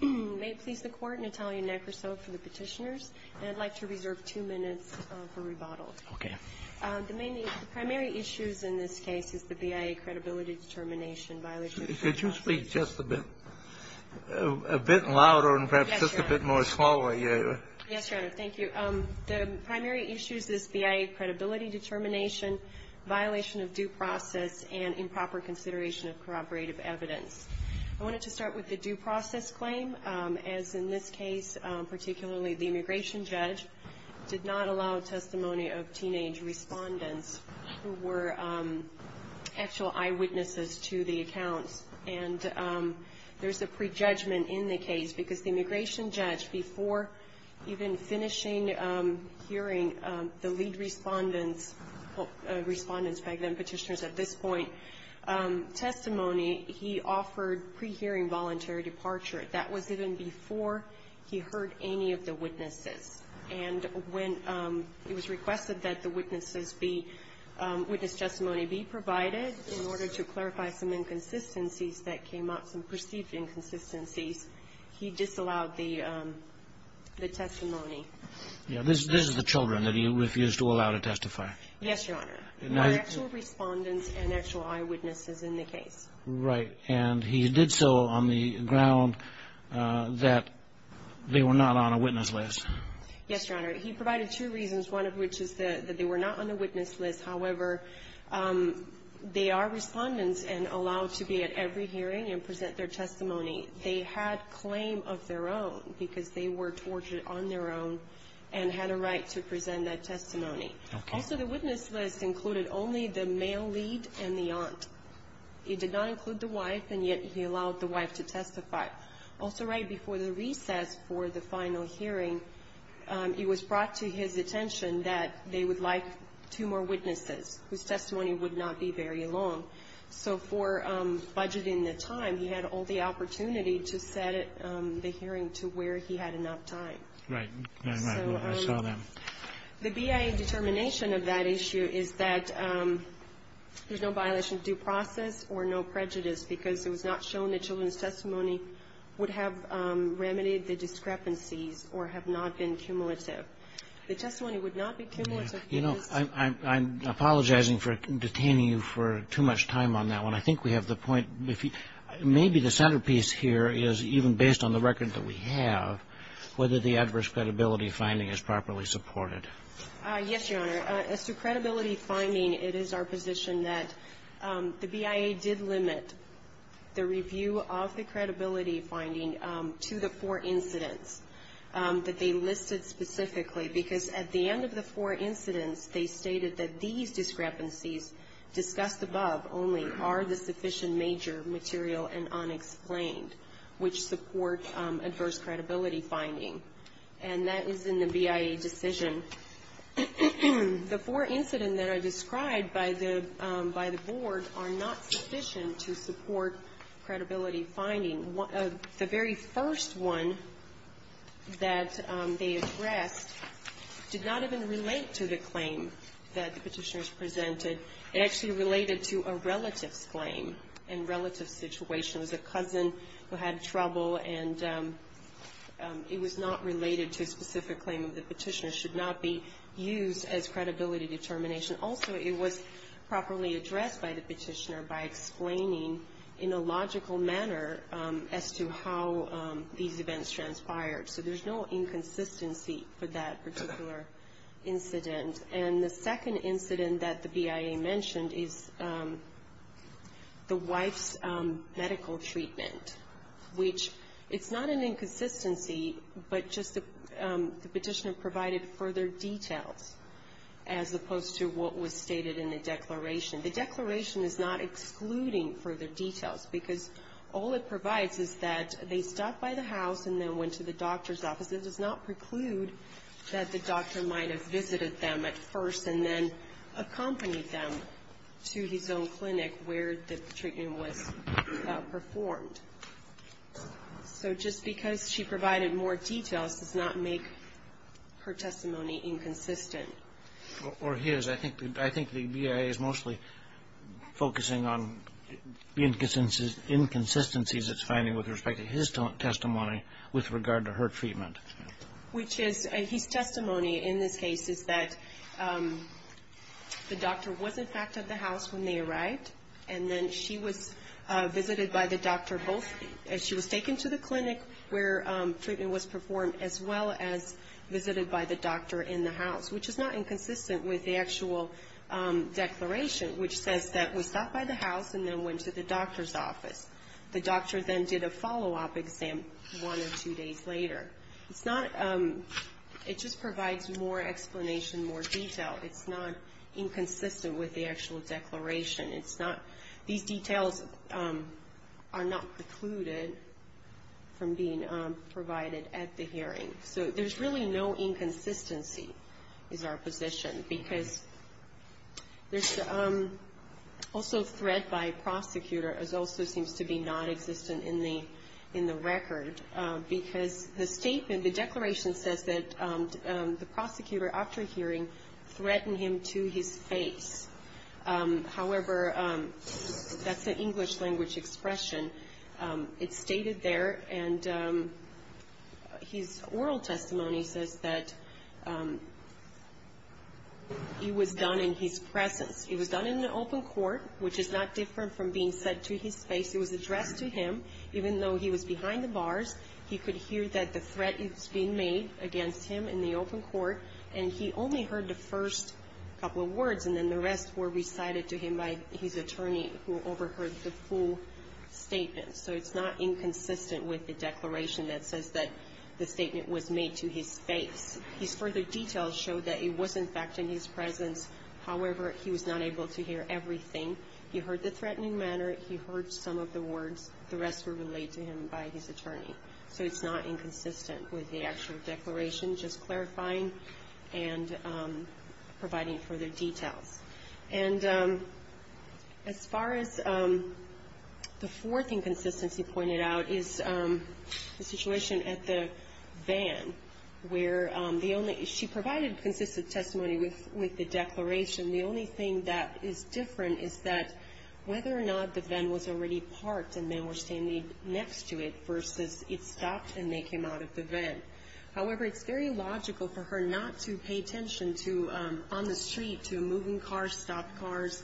May it please the Court, Natalia Nekrasov for the Petitioners. I'd like to reserve two minutes for rebuttal. Okay. The primary issues in this case is the BIA credibility determination violation of due process and improper consideration of corroborative evidence. Yes, Your Honor, thank you. The primary issues is BIA credibility determination, violation of due process, and improper consideration of corroborative evidence. I wanted to start with the due process claim, as in this case, particularly the immigration judge, did not allow testimony of teenage respondents who were actual eyewitnesses to the accounts. And there's a prejudgment in the case because the immigration judge, before even finishing hearing the lead respondents back then, the petitioners at this point, testimony, he offered pre-hearing voluntary departure. That was even before he heard any of the witnesses. And when it was requested that the witnesses be, witness testimony be provided in order to clarify some inconsistencies that came up, some perceived inconsistencies, he disallowed the testimony. Yeah, this is the children that he refused to allow to testify. Yes, Your Honor. Not actual respondents and actual eyewitnesses in the case. Right, and he did so on the ground that they were not on a witness list. Yes, Your Honor, he provided two reasons, one of which is that they were not on the witness list. However, they are respondents and allowed to be at every hearing and present their testimony. They had claim of their own because they were tortured on their own and had a right to present that testimony. Also, the witness list included only the male lead and the aunt. He did not include the wife and yet he allowed the wife to testify. Also, right before the recess for the final hearing, it was brought to his attention that they would like two more witnesses whose testimony would not be very long. So for budgeting the time, he had all the opportunity to set the hearing to where he had enough time. Right, I saw that. The BIA determination of that issue is that there's no violation of due process or no prejudice because it was not shown that children's testimony would have remedied the discrepancies or have not been cumulative. The testimony would not be cumulative. You know, I'm apologizing for detaining you for too much time on that one. I think we have the point. Maybe the centerpiece here is even based on the record that we have, whether the adverse credibility finding is properly supported. Yes, Your Honor. As to credibility finding, it is our position that the BIA did limit the review of the credibility finding to the four incidents that they listed specifically because at the end of the four incidents, they stated that these discrepancies discussed above only are the sufficient major material and unexplained, which support adverse credibility finding. And that is in the BIA decision. The four incidents that are described by the board are not sufficient to support credibility finding. The very first one that they addressed did not even relate to the claim that the petitioners presented. It actually related to a relative's claim and relative situation. It was a cousin who had trouble and it was not related to a specific claim that the petitioner should not be used as credibility determination. Also, it was properly addressed by the petitioner by explaining in a logical manner as to how these events transpired. So there's no inconsistency for that particular incident. And the second incident that the BIA mentioned is the wife's medical treatment, which it's not an inconsistency, but just the petitioner provided further details as opposed to what was stated in the declaration. The declaration is not excluding further details because all it provides is that they stopped by the house and then went to the doctor's office. It does not preclude that the doctor might have visited them at first and then accompanied them to his own clinic where the treatment was performed. So just because she provided more details does not make her testimony inconsistent. Or his. I think the BIA is mostly focusing on the inconsistencies it's finding with respect to his testimony with regard to her treatment. Which is, his testimony in this case is that the doctor was in fact at the house when they arrived and then she was visited by the doctor both, she was taken to the clinic where treatment was performed as well as visited by the doctor in the house. Which is not inconsistent with the actual declaration which says that we stopped by the house and then went to the doctor's office. The doctor then did a follow-up exam one or two days later. It's not, it just provides more explanation, more detail. It's not inconsistent with the actual declaration. It's not, these details are not precluded from being provided at the hearing. So there's really no inconsistency is our position. Because there's also threat by prosecutor as also seems to be non-existent in the record. Because the statement, the declaration says that the prosecutor after hearing threatened him to his face. However, that's an English language expression. It's stated there and his oral testimony says that he was done in his presence. He was done in an open court which is not different from being said to his face. It was addressed to him even though he was behind the bars. He could hear that the threat is being made against him in the open court. And he only heard the first couple of words and then the rest were recited to him by his attorney who overheard the full statement. So it's not inconsistent with the declaration that says that the statement was made to his face. His further details show that he was in fact in his presence. However, he was not able to hear everything. He heard the threatening manner, he heard some of the words, the rest were relayed to him by his attorney. So it's not inconsistent with the actual declaration. Just clarifying and providing further details. And as far as the fourth inconsistency pointed out is the situation at the van where she provided consistent testimony with the declaration. The only thing that is different is that whether or not the van was already parked and men were standing next to it versus it stopped and they came out of the van. However, it's very logical for her not to pay attention to on the street to moving cars, stopped cars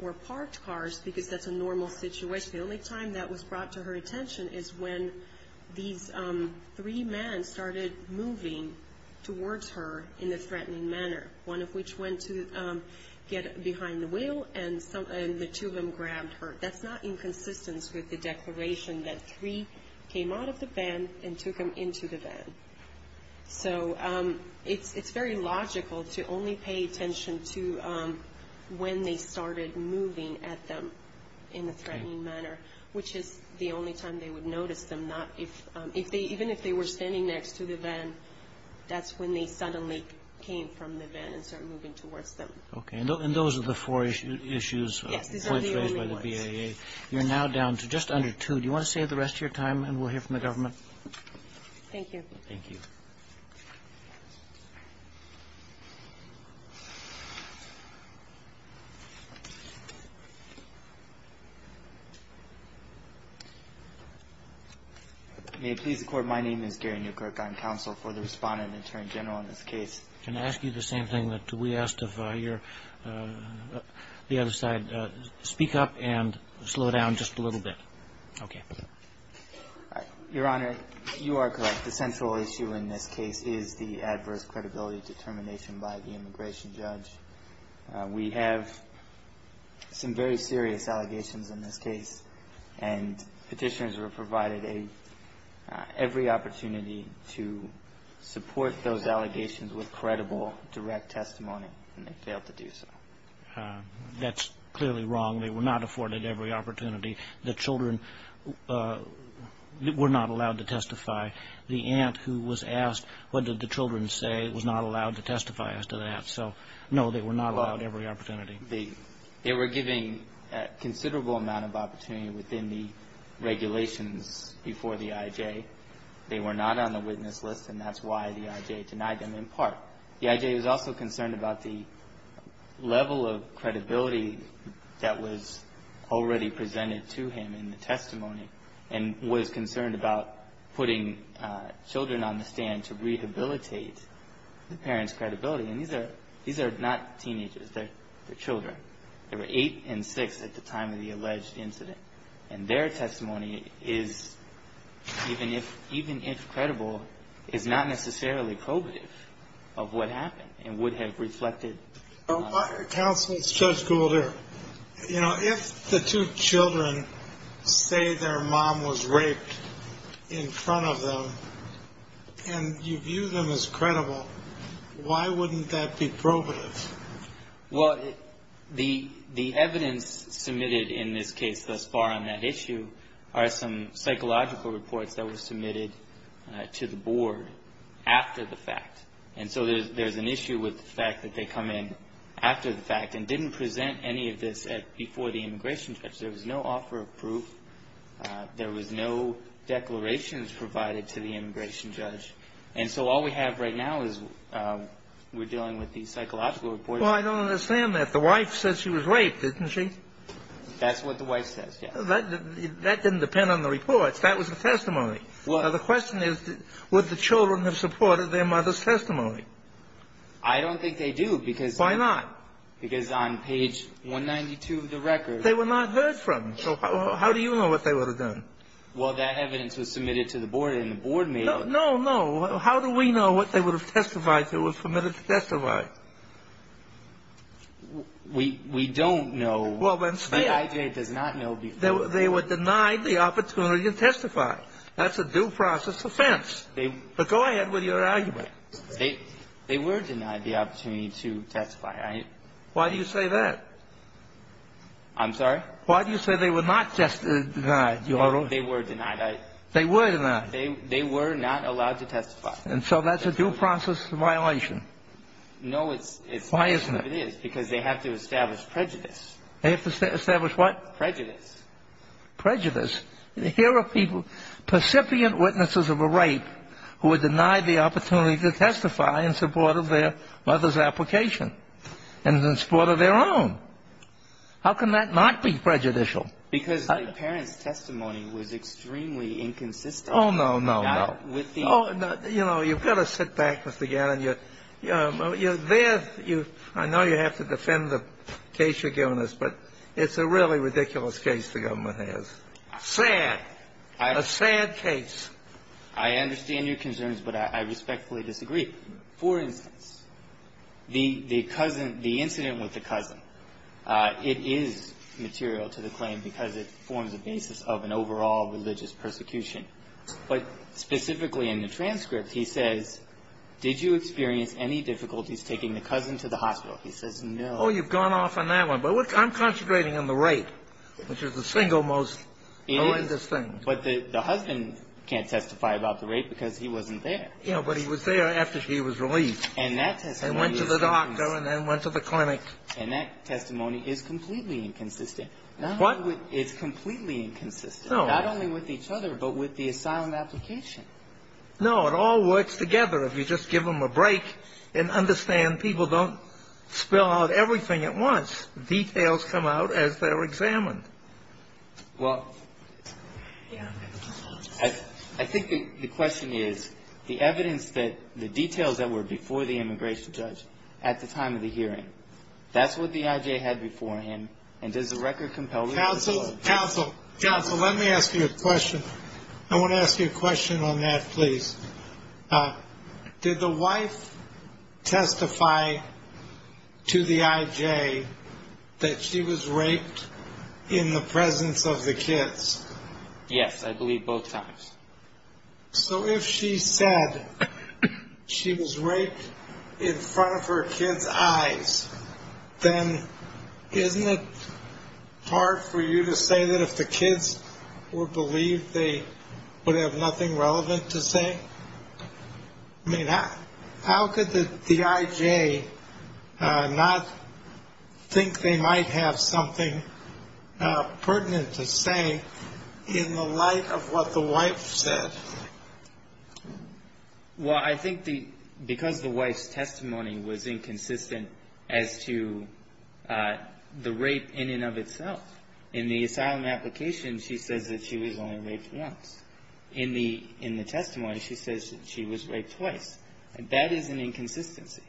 or parked cars because that's a normal situation. The only time that was brought to her attention is when these three men started moving towards her in a threatening manner. One of which went to get behind the wheel and the two of them grabbed her. That's not inconsistent with the declaration that three came out of the van and took him into the van. So it's very logical to only pay attention to when they started moving at them in a threatening manner, which is the only time they would notice them. Not if if they even if they were standing next to the van, that's when they suddenly came from the van and started moving towards them. OK, and those are the four issues raised by the VA. You're now down to just under two. Do you want to save the rest of your time and we'll hear from the government? Thank you. Thank you. May it please the court, my name is Gary Newkirk. I'm counsel for the respondent in turn general in this case. Can I ask you the same thing that we asked of your the other side? Speak up and slow down just a little bit. OK, Your Honor, you are correct. The central issue in this case is the adverse credibility determination by the immigration judge. We have some very serious allegations in this case and petitions were provided. They every opportunity to support those allegations with credible, direct testimony and they failed to do so. That's clearly wrong. They were not afforded every opportunity. The children were not allowed to testify. The aunt who was asked, what did the children say, was not allowed to testify as to that. So, no, they were not allowed every opportunity. They were giving a considerable amount of opportunity within the regulations before the I.J. They were not on the witness list and that's why the I.J. denied them in part. The I.J. was also concerned about the level of credibility that was already presented to him in the testimony and was concerned about putting children on the stand to rehabilitate the parents' credibility. And these are these are not teenagers. They're children. They were eight and six at the time of the alleged incident. And their testimony is, even if even if credible, is not necessarily probative of what happened and would have reflected. Counsel Judge Goulder, you know, if the two children say their mom was raped in front of them and you view them as credible. Why wouldn't that be probative? Well, the the evidence submitted in this case thus far on that issue are some psychological reports that were submitted to the board after the fact. And so there's an issue with the fact that they come in after the fact and didn't present any of this before the immigration judge. There was no offer of proof. There was no declarations provided to the immigration judge. And so all we have right now is we're dealing with these psychological reports. Well, I don't understand that. The wife says she was raped, didn't she? That's what the wife says. That didn't depend on the reports. That was a testimony. Well, the question is, would the children have supported their mother's testimony? I don't think they do, because. Why not? Because on page 192 of the record. They were not heard from. So how do you know what they would have done? Well, that evidence was submitted to the board and the board. No, no, no. How do we know what they would have testified? They were permitted to testify. We we don't know. Well, let's say it does not know. They were denied the opportunity to testify. That's a due process offense. But go ahead with your argument. They were denied the opportunity to testify. Why do you say that? I'm sorry. Why do you say they were not just denied? They were denied. They were denied. They were not allowed to testify. And so that's a due process violation. No, it's why isn't it? Because they have to establish prejudice. They have to establish what? Prejudice. Prejudice. Here are people, percipient witnesses of a rape who were denied the opportunity to testify in support of their mother's application and in support of their own. How can that not be prejudicial? Because the parent's testimony was extremely inconsistent. Oh, no, no, no. With the. Oh, you know, you've got to sit back, Mr. Gannon. You know, you're there. You I know you have to defend the case you're giving us, but it's a really ridiculous case. The government has a sad case. I understand your concerns, but I respectfully disagree. For instance, the cousin, the incident with the cousin, it is material to the claim because it forms a basis of an overall religious persecution. But specifically in the transcript, he says, did you experience any difficulties taking the cousin to the hospital? He says, no. Oh, you've gone off on that one. But I'm concentrating on the rape, which is the single most religious thing. But the husband can't testify about the rape because he wasn't there. Yeah, but he was there after she was released. And that testimony. Went to the doctor and then went to the clinic. And that testimony is completely inconsistent. What? It's completely inconsistent, not only with each other, but with the asylum application. No, it all works together if you just give them a break and understand people don't spell out everything at once. Details come out as they're examined. Well, I think the question is the evidence that the details that were before the immigration judge at the time of the hearing. That's what the IJ had before him. And there's a record compelled to counsel counsel counsel. Let me ask you a question. I want to ask you a question on that, please. Did the wife testify to the IJ that she was raped in the presence of the kids? Yes, I believe both times. So if she said she was raped in front of her kids eyes, then isn't it hard for you to say that if the kids were believed, they would have nothing relevant to say? I mean, how could the IJ not think they might have something pertinent to say in the light of what the wife said? Well, I think the because the wife's testimony was inconsistent as to the rape in and of itself in the asylum application, she says that she was only raped once in the in the testimony. She says she was raped twice. And that is an inconsistency.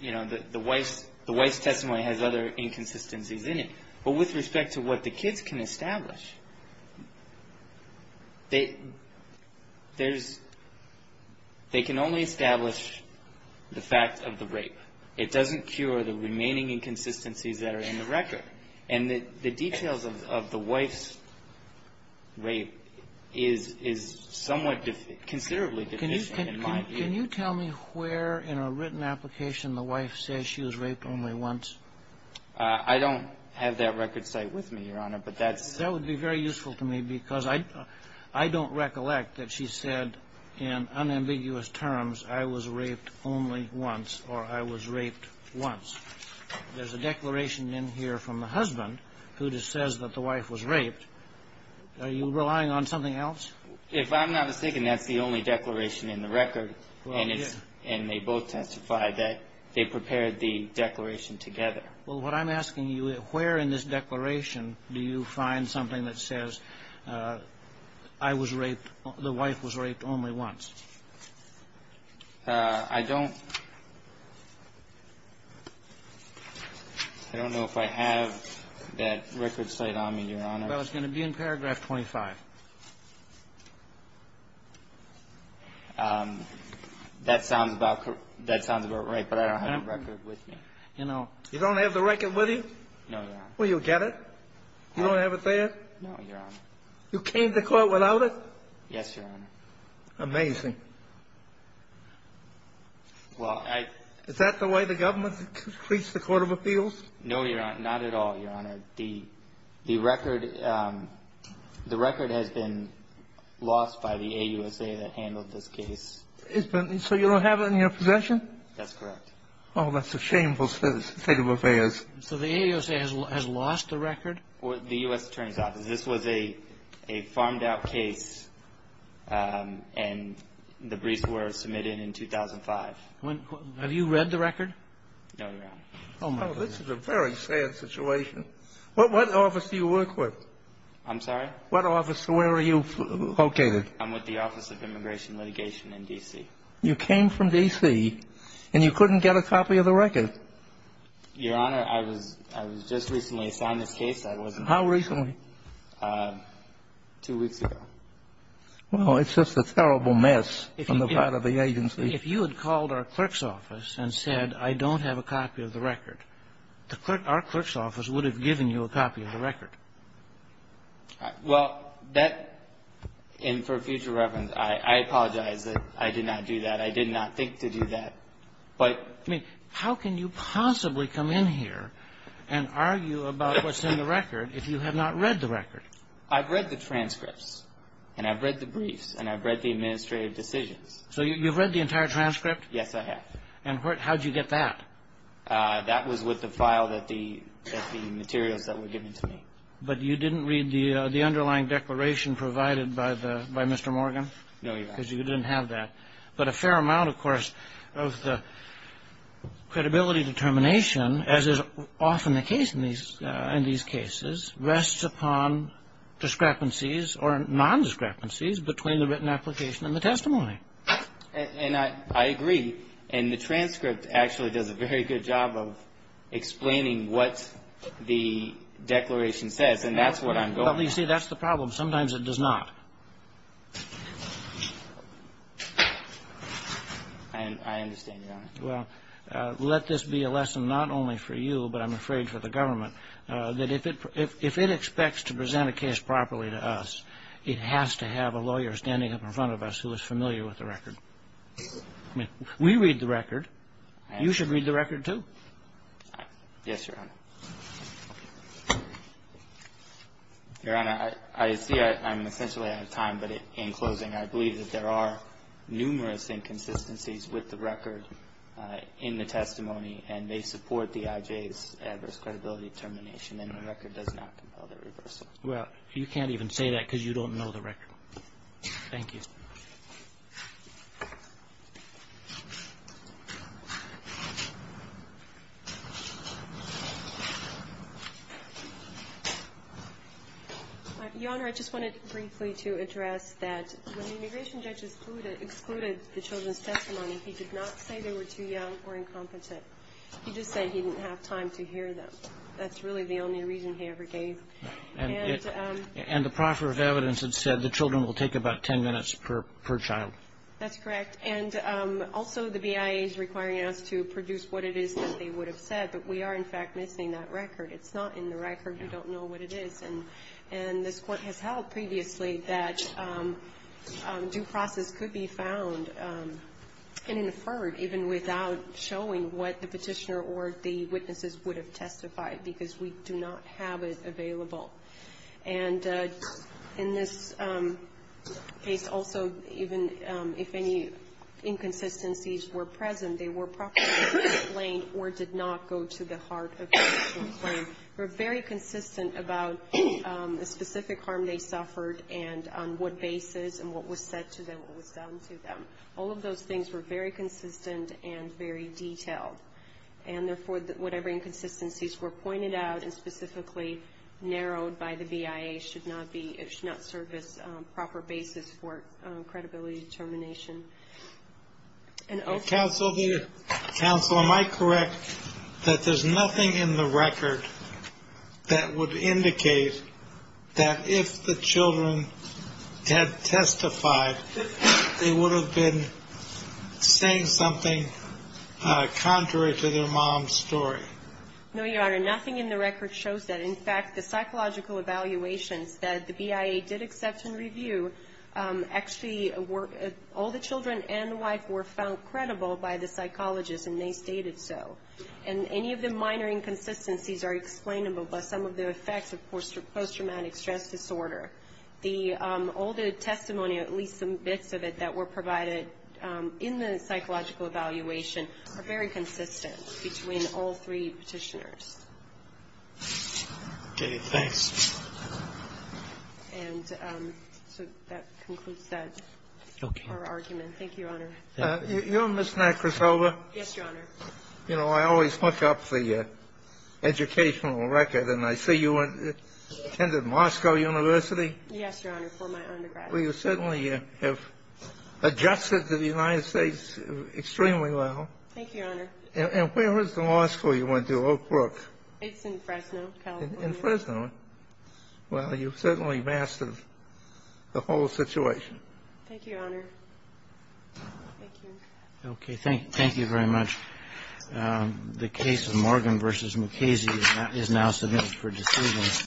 You know, the wife's the wife's testimony has other inconsistencies in it, but with respect to what the kids can establish. They there's they can only establish the fact of the rape. It doesn't cure the remaining inconsistencies that are in the record. And the details of the wife's rape is is somewhat considerably. Can you can you tell me where in a written application the wife says she was raped only once? I don't have that record site with me, Your Honor. But that's that would be very useful to me, because I I don't recollect that she said in unambiguous terms, I was raped only once or I was raped once. There's a declaration in here from the husband who just says that the wife was raped. Are you relying on something else? If I'm not mistaken, that's the only declaration in the record. And they both testified that they prepared the declaration together. Well, what I'm asking you, where in this declaration do you find something that says I was raped, the wife was raped only once? I don't. I don't know if I have that record site on me, Your Honor. Well, it's going to be in paragraph twenty five. That sounds about that sounds about right, but I don't have a record with me. You know, you don't have the record with you. No. Well, you'll get it. You don't have it there. No, Your Honor. You came to court without it. Yes, Your Honor. Amazing. Well, I. Is that the way the government treats the Court of Appeals? No, Your Honor. Not at all. Your Honor, the the record, the record has been lost by the AUSA that handled this case. It's been so you don't have it in your possession. That's correct. Oh, that's a shameful state of affairs. So the AUSA has lost the record? The U.S. Attorney's Office. This was a a farmed out case and the briefs were submitted in 2005. Have you read the record? No, Your Honor. Oh, this is a very sad situation. What what office do you work with? I'm sorry? What office? Where are you located? I'm with the Office of Immigration Litigation in D.C. You came from D.C. and you couldn't get a copy of the record? Your Honor, I was I was just recently assigned this case. I wasn't. How recently? Two weeks ago. Well, it's just a terrible mess on the part of the agency. If you had called our clerk's office and said, I don't have a copy of the record, the clerk, our clerk's office would have given you a copy of the record. Well, that and for future reference, I apologize that I did not do that. I did not think to do that. But I mean, how can you possibly come in here and argue about what's in the record if you have not read the record? I've read the transcripts and I've read the briefs and I've read the administrative decisions. So you've read the entire transcript? Yes, I have. And how did you get that? That was with the file that the materials that were given to me. But you didn't read the the underlying declaration provided by the by Mr. Morgan? No, Your Honor. Because you didn't have that. But a fair amount, of course, of the credibility determination, as is often the case in these in these cases, rests upon discrepancies or non-discrepancies between the written application and the testimony. And I agree. And the transcript actually does a very good job of explaining what the declaration says. And that's what I'm going to say. That's the problem. Sometimes it does not. And I understand. Well, let this be a lesson not only for you, but I'm afraid for the government, that if it if it expects to present a case properly to us, it has to have a lawyer standing up in front of us who is familiar with it. With the record, we read the record and you should read the record, too. Yes, Your Honor. Your Honor, I see I'm essentially out of time, but in closing, I believe that there are numerous inconsistencies with the record in the testimony and they support the IJ's adverse credibility determination. And the record does not compel the reversal. Well, you can't even say that because you don't know the record. Thank you. Your Honor, I just wanted briefly to address that when the immigration judges excluded the children's testimony, he did not say they were too young or incompetent. He just said he didn't have time to hear them. That's really the only reason he ever gave. And the proffer of evidence had said the children will take about 10 minutes per child. That's correct. And also the BIA is requiring us to produce what it is that they would have said. But we are, in fact, missing that record. It's not in the record. We don't know what it is. And and this Court has held previously that due process could be found and inferred even without showing what the petitioner or the witnesses would have testified because we do not have it available. And in this case, also, even if any inconsistencies were present, they were properly explained or did not go to the heart of the actual claim. We're very consistent about the specific harm they suffered and on what basis and what was said to them, what was done to them. All of those things were very consistent and very detailed. And therefore, whatever inconsistencies were pointed out and specifically narrowed by the BIA should not be, should not serve as a proper basis for credibility determination. And counsel here, counsel, am I correct that there's nothing in the record that would indicate that if the children had testified, they would have been saying something contrary to their mom's story? No, Your Honor, nothing in the record shows that. In fact, the psychological evaluations that the BIA did accept and review actually were all the children and the wife were found credible by the psychologist and they stated so. And any of the minor inconsistencies are explainable by some of the effects of post-traumatic stress disorder. The, all the testimony, at least some bits of it that were provided in the psychological evaluation are very consistent between all three Petitioners. Okay, thanks. And so that concludes that argument. Thank you, Your Honor. You know, Ms. Nacrasova. Yes, Your Honor. You know, I always look up the educational record and I see you attended Moscow University. Yes, Your Honor, for my undergrad. Well, you certainly have adjusted to the United States extremely well. Thank you, Your Honor. And where was the law school you went to, Oak Brook? It's in Fresno, California. In Fresno. Well, you've certainly mastered the whole situation. Thank you, Your Honor. Okay, thank you very much. The case of Morgan versus Mukasey is now submitted for decision.